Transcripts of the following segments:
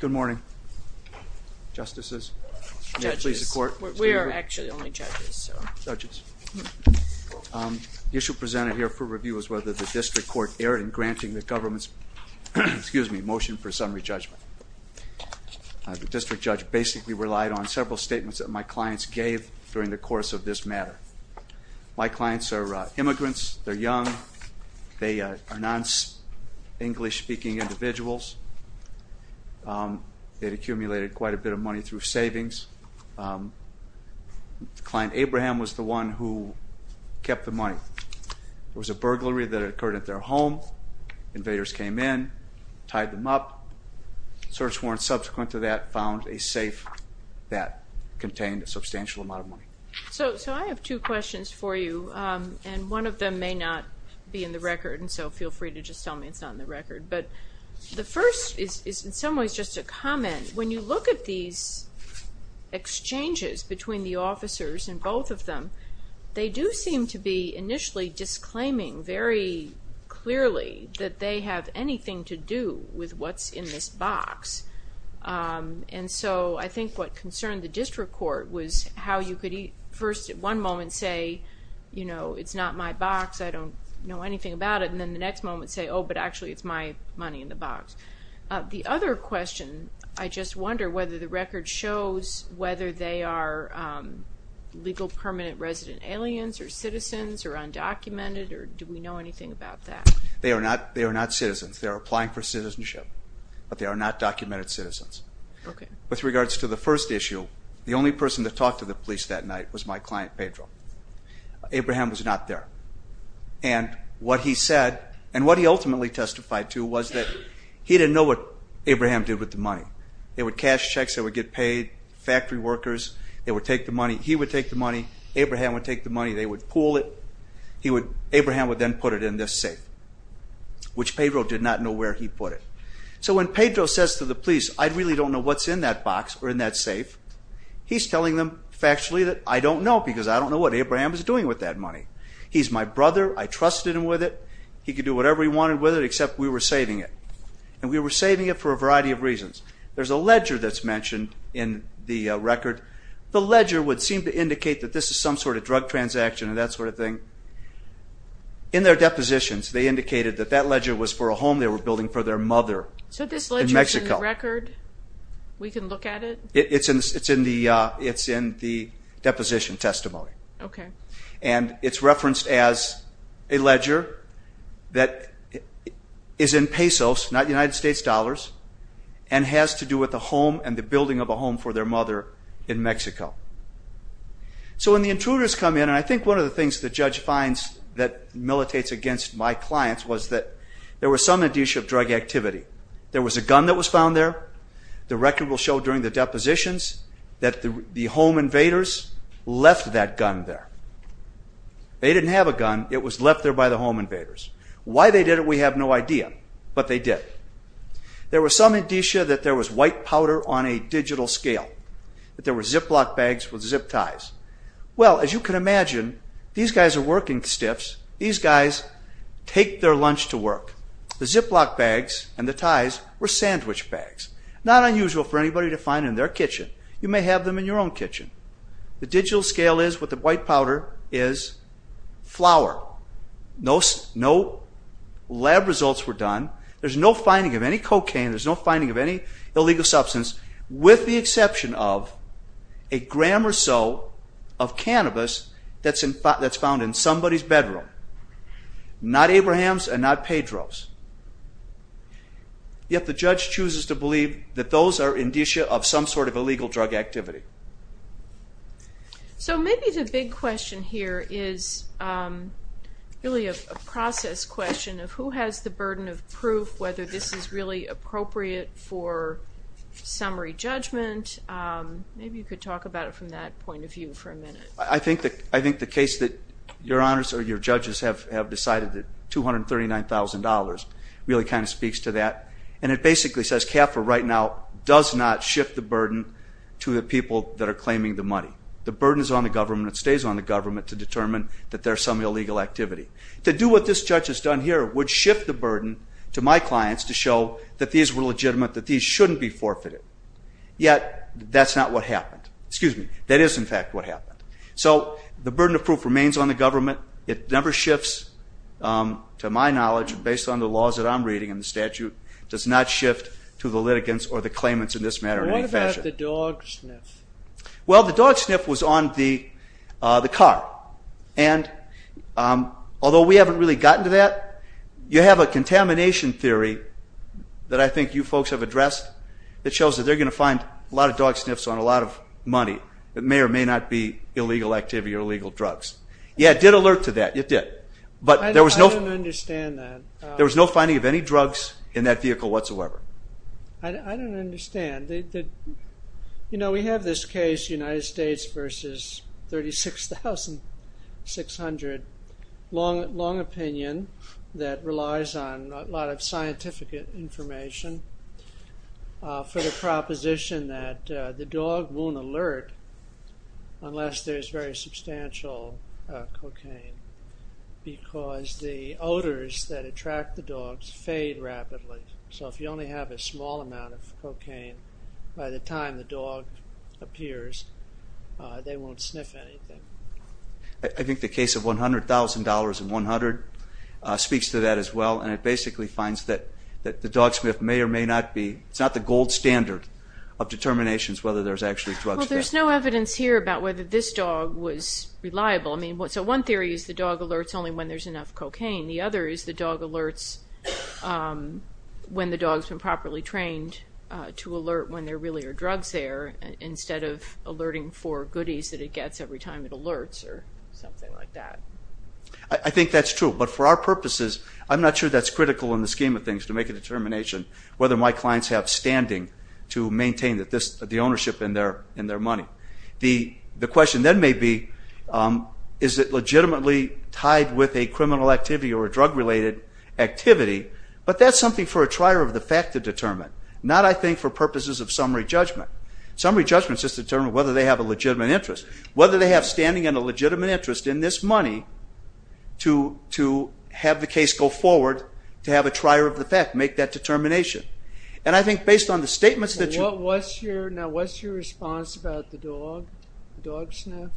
Good morning, Justices. Judges. We are actually only judges. Judges. The issue presented here for review is whether the district court erred in granting the government's motion for summary judgment. The district judge basically relied on several statements that my clients gave during the course of this matter. My clients are immigrants, they're individuals, they'd accumulated quite a bit of money through savings. Client Abraham was the one who kept the money. There was a burglary that occurred at their home, invaders came in, tied them up, search warrant subsequent to that found a safe that contained a substantial amount of money. So I have two questions for you and one of them may not be in the record and so feel free to just tell me it's not in the record. But the first is in some ways just a comment. When you look at these exchanges between the officers and both of them, they do seem to be initially disclaiming very clearly that they have anything to do with what's in this box. And so I think what concerned the district court was how you could first at one moment say, you know, it's not my box, I don't know anything about it and then the next moment say, oh but actually it's my money in the box. The other question, I just wonder whether the record shows whether they are legal permanent resident aliens or citizens or undocumented or do we know anything about that? They are not they are not citizens. They are applying for citizenship but they are not documented citizens. Okay. With regards to the first issue, the only person to talk to the police that night was my client Pedro. Abraham was not there and what he said and what he ultimately testified to was that he didn't know what Abraham did with the money. They would cash checks, they would get paid, factory workers, they would take the money, he would take the money, Abraham would take the money, they would pool it, he would, Abraham would then put it in this safe. Which Pedro did not know where he put it. So when Pedro says to the police, I really don't know what's in that box or in that I don't know what Abraham is doing with that money. He's my brother, I trusted him with it, he could do whatever he wanted with it except we were saving it. And we were saving it for a variety of reasons. There's a ledger that's mentioned in the record. The ledger would seem to indicate that this is some sort of drug transaction and that sort of thing. In their depositions they indicated that that ledger was for a home they were building for their mother. So this ledger is in the record? We can look at it? It's in the deposition testimony. Okay. And it's referenced as a ledger that is in pesos, not United States dollars, and has to do with the home and the building of a home for their mother in Mexico. So when the intruders come in and I think one of the things the judge finds that militates against my clients was that there was some addition of drug activity. There was a gun that was found there, the record will show during the depositions that the home invaders left that gun there. They didn't have a gun, it was left there by the home invaders. Why they did it we have no idea, but they did. There was some indicia that there was white powder on a digital scale, that there were Ziploc bags with zip ties. Well as you can imagine, these guys are working stiffs, these guys take their lunch to work. The to find in their kitchen. You may have them in your own kitchen. The digital scale is what the white powder is flour. No lab results were done, there's no finding of any cocaine, there's no finding of any illegal substance, with the exception of a gram or so of cannabis that's found in somebody's bedroom. Not Abraham's and not Pedro's. Yet the judge chooses to believe that those are indicia of some sort of illegal drug activity. So maybe the big question here is really a process question of who has the burden of proof whether this is really appropriate for summary judgment. Maybe you could talk about it from that point of view for a minute. I think the case that your honors or your judges have decided that $239,000 really kind of speaks to that. And it basically says CAFRA right now does not shift the burden to the people that are claiming the money. The burden is on the government, it stays on the government to determine that there's some illegal activity. To do what this judge has done here would shift the burden to my clients to show that these were legitimate, that these shouldn't be forfeited. Yet that's not what happened. Excuse me, that is in fact what happened. So the burden of proof remains on the government, it never shifts to my clients. It's on the laws that I'm reading and the statute does not shift to the litigants or the claimants in this matter. What about the dog sniff? Well the dog sniff was on the the car. And although we haven't really gotten to that, you have a contamination theory that I think you folks have addressed that shows that they're going to find a lot of dog sniffs on a lot of money that may or may not be illegal activity or illegal drugs. Yeah it did alert to that, it did. But I don't understand that. There was no finding of any drugs in that vehicle whatsoever. I don't understand. You know we have this case United States versus 36,600, long opinion that relies on a lot of scientific information for the proposition that the dog won't alert unless there's very substantial cocaine because the odors that attract the dogs fade rapidly. So if you only have a small amount of cocaine by the time the dog appears they won't sniff anything. I think the case of $100,000 and 100 speaks to that as well and it basically finds that that the dog sniff may or may not be, it's not the gold standard of determinations whether there's actually drugs there. There's no evidence here about whether this dog was reliable. So one theory is the dog alerts only when there's enough cocaine. The other is the dog alerts when the dog's been properly trained to alert when there really are drugs there instead of alerting for goodies that it gets every time it alerts or something like that. I think that's true but for our purposes I'm not sure that's critical in the scheme of things to make a determination whether my clients have standing to maintain the ownership in their money. The question then may be is it legitimately tied with a criminal activity or a drug-related activity but that's something for a trier of the fact to determine. Not I think for purposes of summary judgment. Summary judgment is just to determine whether they have a legitimate interest. Whether they have standing and a legitimate interest in this money to have the case go forward to have a trier of the fact make that Now what's your response about the dog sniff?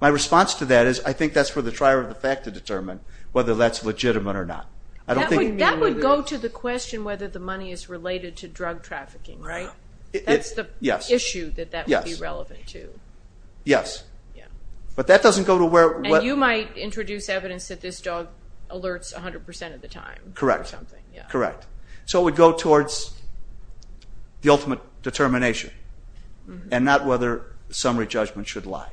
My response to that is I think that's for the trier of the fact to determine whether that's legitimate or not. That would go to the question whether the money is related to drug trafficking right? That's the issue that that would be relevant to. Yes but that doesn't go to where. You might introduce evidence that this dog alerts a hundred percent of the time. Correct. So it would go towards the determination and not whether summary judgment should lie.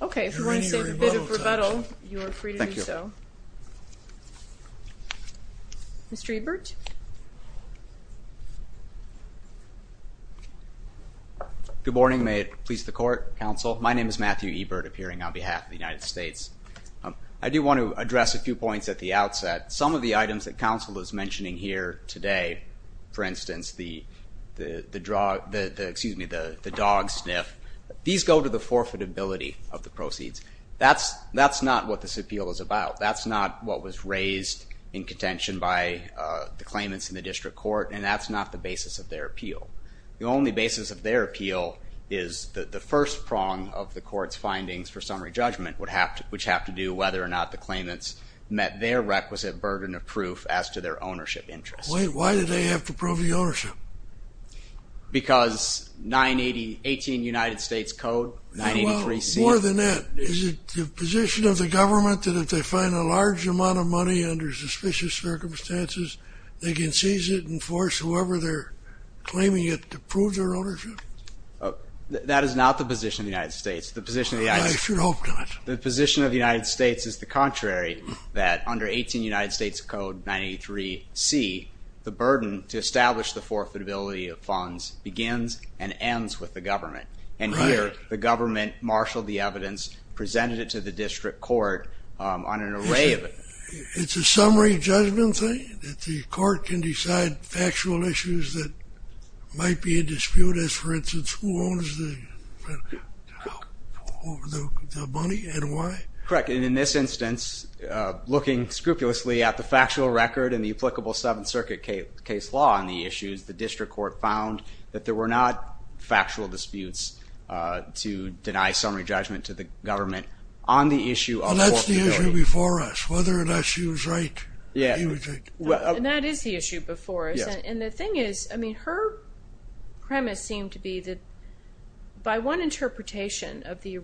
Okay if you want to say a bit of rebuttal you're free to do so. Mr. Ebert. Good morning may it please the court, counsel. My name is Matthew Ebert appearing on behalf of the United States. I do want to address a few points at the here today. For instance, the dog sniff. These go to the forfeitability of the proceeds. That's not what this appeal is about. That's not what was raised in contention by the claimants in the district court and that's not the basis of their appeal. The only basis of their appeal is that the first prong of the court's findings for summary judgment would have to do whether or not the claimants met their requisite burden of proof as to their ownership interest. Why did they have to prove the ownership? Because 980 18 United States Code 983C. More than that is it the position of the government that if they find a large amount of money under suspicious circumstances they can seize it and force whoever they're claiming it to prove their ownership? That is not the position of the United States. The position of the United States. I should hope not. The position of the United States is the burden to establish the forfeitability of funds begins and ends with the government and here the government marshaled the evidence presented it to the district court on an array of it. It's a summary judgment thing that the court can decide factual issues that might be a dispute as for instance who owns the money and why? Correct, and in this instance looking scrupulously at the applicable Seventh Circuit case law on the issues the district court found that there were not factual disputes to deny summary judgment to the government on the issue of forfeitability. Well that's the issue before us whether or not she was right. Yeah and that is the issue before us and the thing is I mean her premise seemed to be that by one interpretation of the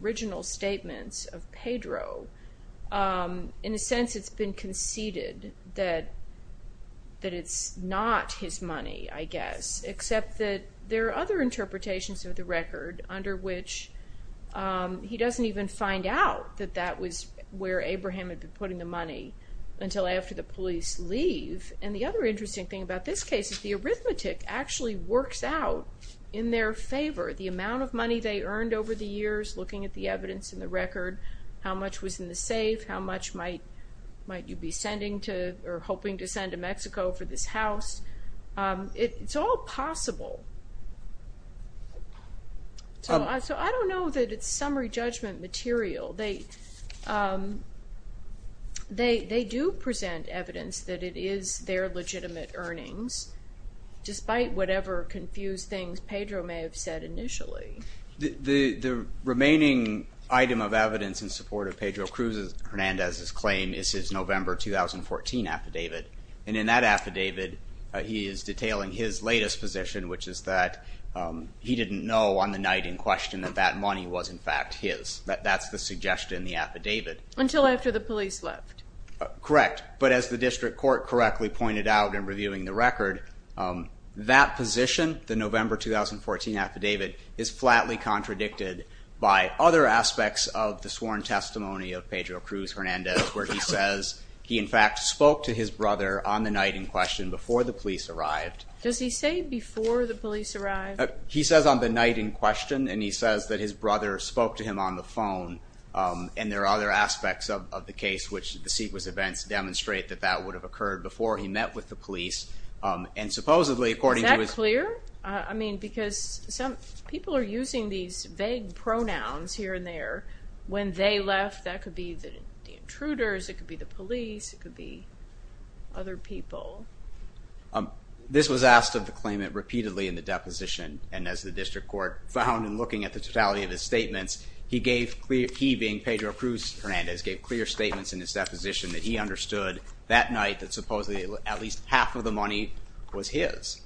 that it's not his money I guess except that there are other interpretations of the record under which he doesn't even find out that that was where Abraham had been putting the money until after the police leave and the other interesting thing about this case is the arithmetic actually works out in their favor the amount of money they earned over the years looking at the evidence in the record how much was in the safe how much might might you be sending to or hoping to send to Mexico for this house it's all possible so I don't know that it's summary judgment material they they they do present evidence that it is their legitimate earnings despite whatever confused things Pedro may have said initially. The remaining item of evidence in support of Pedro Cruz's Hernandez's claim is his November 2014 affidavit and in that affidavit he is detailing his latest position which is that he didn't know on the night in question that that money was in fact his that that's the suggestion in the affidavit. Until after the police left. Correct but as the district court correctly pointed out in reviewing the record that position the November 2014 affidavit is flatly contradicted by other aspects of the sworn testimony of Pedro Cruz Hernandez where he says he in fact spoke to his brother on the night in question before the police arrived. Does he say before the police arrived? He says on the night in question and he says that his brother spoke to him on the phone and there are other aspects of the case which the sequence events demonstrate that that would have occurred before he met with the police and supposedly according to. Is that clear? I mean because some people are using these vague pronouns here and there when they left that could be the intruders, it could be the police, it could be other people. This was asked of the claimant repeatedly in the deposition and as the district court found in looking at the totality of his statements he gave clear he being Pedro Cruz Hernandez gave clear statements in his deposition that he understood that night that supposedly at least half of the money was his.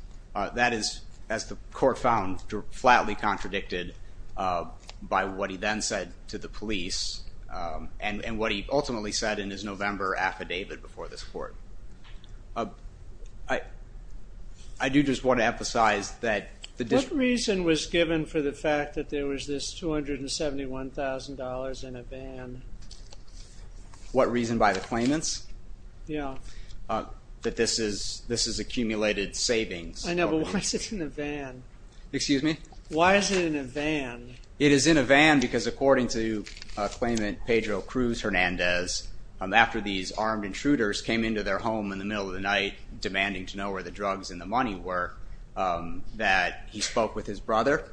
That is as the court found to flatly contradicted by what he then said to the police and what he ultimately said in his November affidavit before this court. I do just want to emphasize that the district. What reason was given for the fact that there was this $271,000 in a van? What reason by the claimants? Yeah. That this is this is accumulated savings. I It is in a van because according to claimant Pedro Cruz Hernandez after these armed intruders came into their home in the middle of the night demanding to know where the drugs and the money were that he spoke with his brother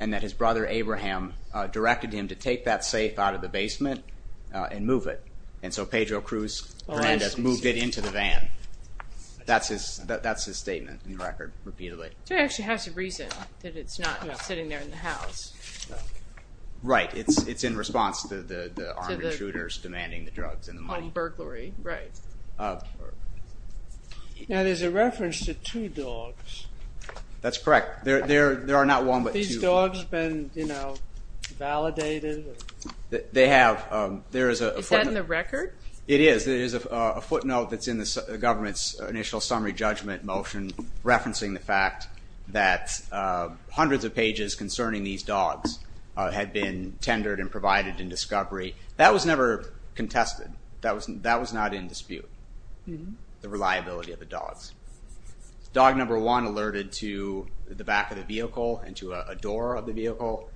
and that his brother Abraham directed him to take that safe out of the basement and move it and so Pedro Cruz Hernandez moved it into the van. That's his that's his record repeatedly. So it actually has a reason that it's not sitting there in the house. Right it's it's in response to the armed intruders demanding the drugs and the money. Now there's a reference to two dogs. That's correct there there there are not one but two. These dogs been you know validated? They have there is a Is that in the record? It is there is a footnote that's in the government's summary judgment motion referencing the fact that hundreds of pages concerning these dogs had been tendered and provided in discovery. That was never contested. That was that was not in dispute. The reliability of the dogs. Dog number one alerted to the back of the vehicle and to a door of the vehicle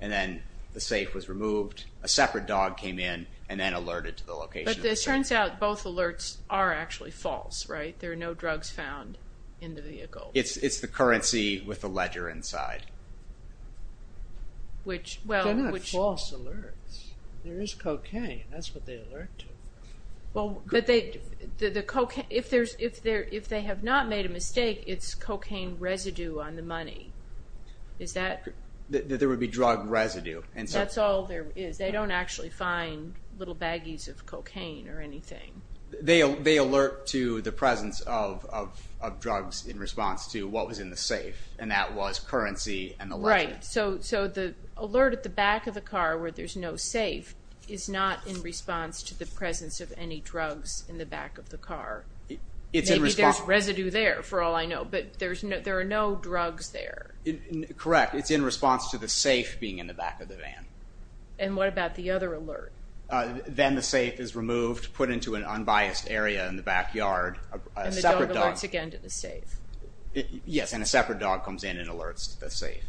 and then the safe was removed. A separate dog came in and then alerted to the location. It turns out both alerts are actually false right? There are no drugs found in the vehicle. It's it's the currency with the ledger inside. Which well. They're not false alerts. There is cocaine that's what they alert to. Well but they the cocaine if there's if there if they have not made a mistake it's cocaine residue on the money. Is that? There would be drug residue. And that's all there is they don't actually find little baggies of cocaine or anything. They they alert to the presence of of drugs in response to what was in the safe and that was currency and the ledger. Right so so the alert at the back of the car where there's no safe is not in response to the presence of any drugs in the back of the car. It's in response. There's residue there for all I know but there's no there are no drugs there. Correct it's in response to the safe being in the back of the van. And what about the other alert? Then the safe is removed put into an unbiased area in the backyard. And the dog alerts again to the safe. Yes and a separate dog comes in and alerts the safe.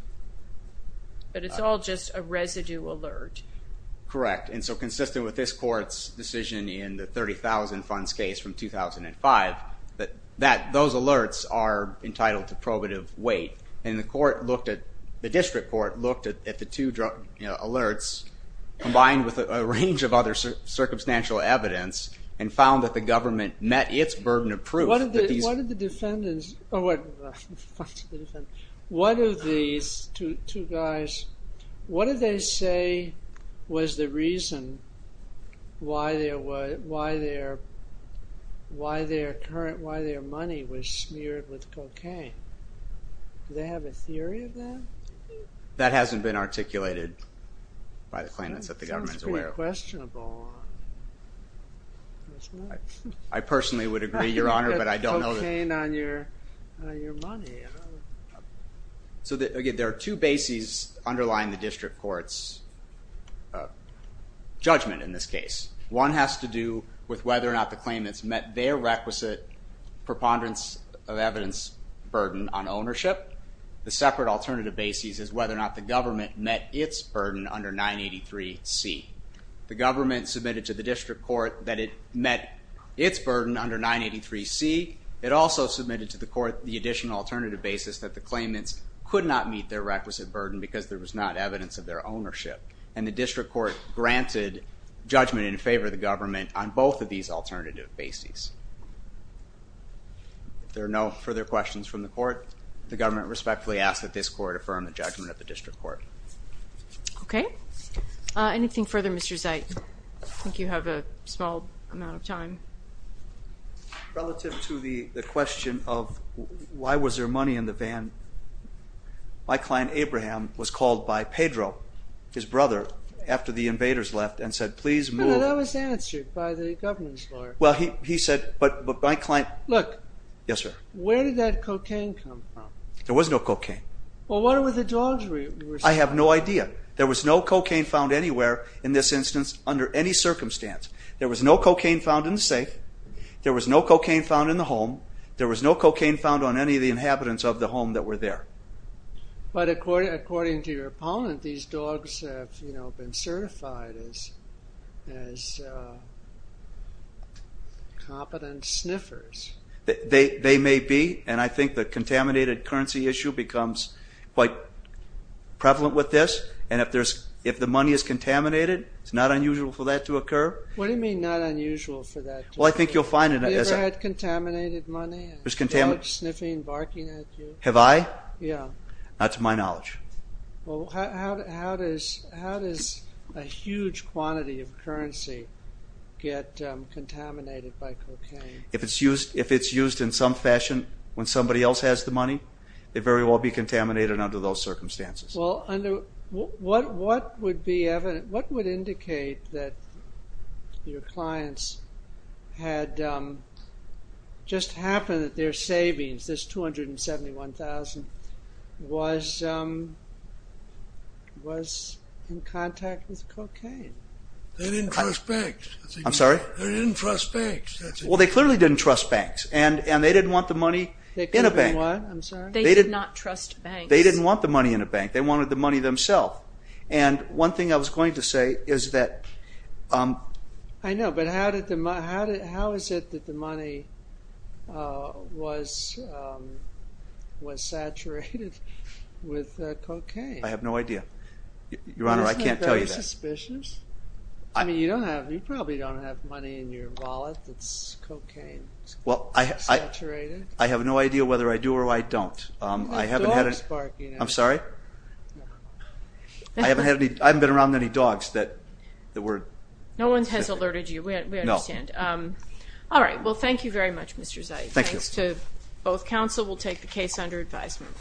But it's all just a residue alert. Correct and so consistent with this court's decision in the 30,000 funds case from 2005 that that those alerts are entitled to probative weight and the court looked at the district court looked at the two drug alerts combined with a range of other circumstantial evidence and found that the government met its burden of proof. What did the defendants or what what are these two guys what did they say was the reason why their why their why their current why their money was smeared with cocaine? They have a theory of that? That hasn't been articulated by the claimants that the government is aware of. Sounds pretty questionable. I personally would agree your honor but I don't know that. You put cocaine on your money. So there are two bases underlying the district court's judgment in this case. One has to do with whether or not the claimants met their requisite preponderance of evidence burden on ownership. The separate alternative basis is whether or not the government met its burden under 983 C. The government submitted to the district court that it met its burden under 983 C. It also submitted to the court the additional alternative basis that the claimants could not meet their requisite burden because there was not evidence of their ownership and the district court granted judgment in favor of the There are no further questions from the court. The government respectfully asked that this court affirm the judgment of the district court. Okay anything further Mr. Zeit? I think you have a small amount of time. Relative to the question of why was there money in the van, my client Abraham was called by Pedro, his brother, after the invaders left and said please move. That was answered by the government's lawyer. Well he said but my client... Look. Yes sir. Where did that cocaine come from? There was no cocaine. Well where were the dogs? I have no idea. There was no cocaine found anywhere in this instance under any circumstance. There was no cocaine found in the safe. There was no cocaine found in the home. There was no cocaine found on any of the inhabitants of the home that were there. But according to your opponent these dogs have you know been certified as as competent sniffers. They may be and I think the contaminated currency issue becomes quite prevalent with this and if there's if the money is contaminated it's not unusual for that to occur. What do you mean not unusual for that? Well I think you'll find it. Have you ever had contaminated money? There's contaminants. Dogs sniffing, barking at you. Have I? Yeah. Not to my knowledge. Well how does a huge quantity of currency get contaminated by cocaine? If it's used in some fashion when somebody else has the money they very well be contaminated under those circumstances. Well under what would be evident, what would indicate that your clients had just happened that their savings, this 271,000, was in contact with cocaine? They didn't trust banks. I'm sorry? They didn't trust banks. Well they clearly didn't trust banks and and they didn't want the money in a bank. They did not trust banks. They didn't want the money in a bank. They wanted the money themselves and one thing I was going to say is that. I know but how did the money how is it that the money was was saturated with cocaine? I have no idea. Your Honor, I can't tell you that. Isn't it very suspicious? I mean you don't have, you probably don't have money in your wallet that's cocaine saturated. Well I have no idea whether I do or I don't. I haven't had it. Dogs barking at you. I'm sorry? I haven't had any, I haven't been around any but the word. No one has alerted you, we understand. All right, well thank you very much Mr. Zeid. Thanks to both counsel. We'll take the case under advisement.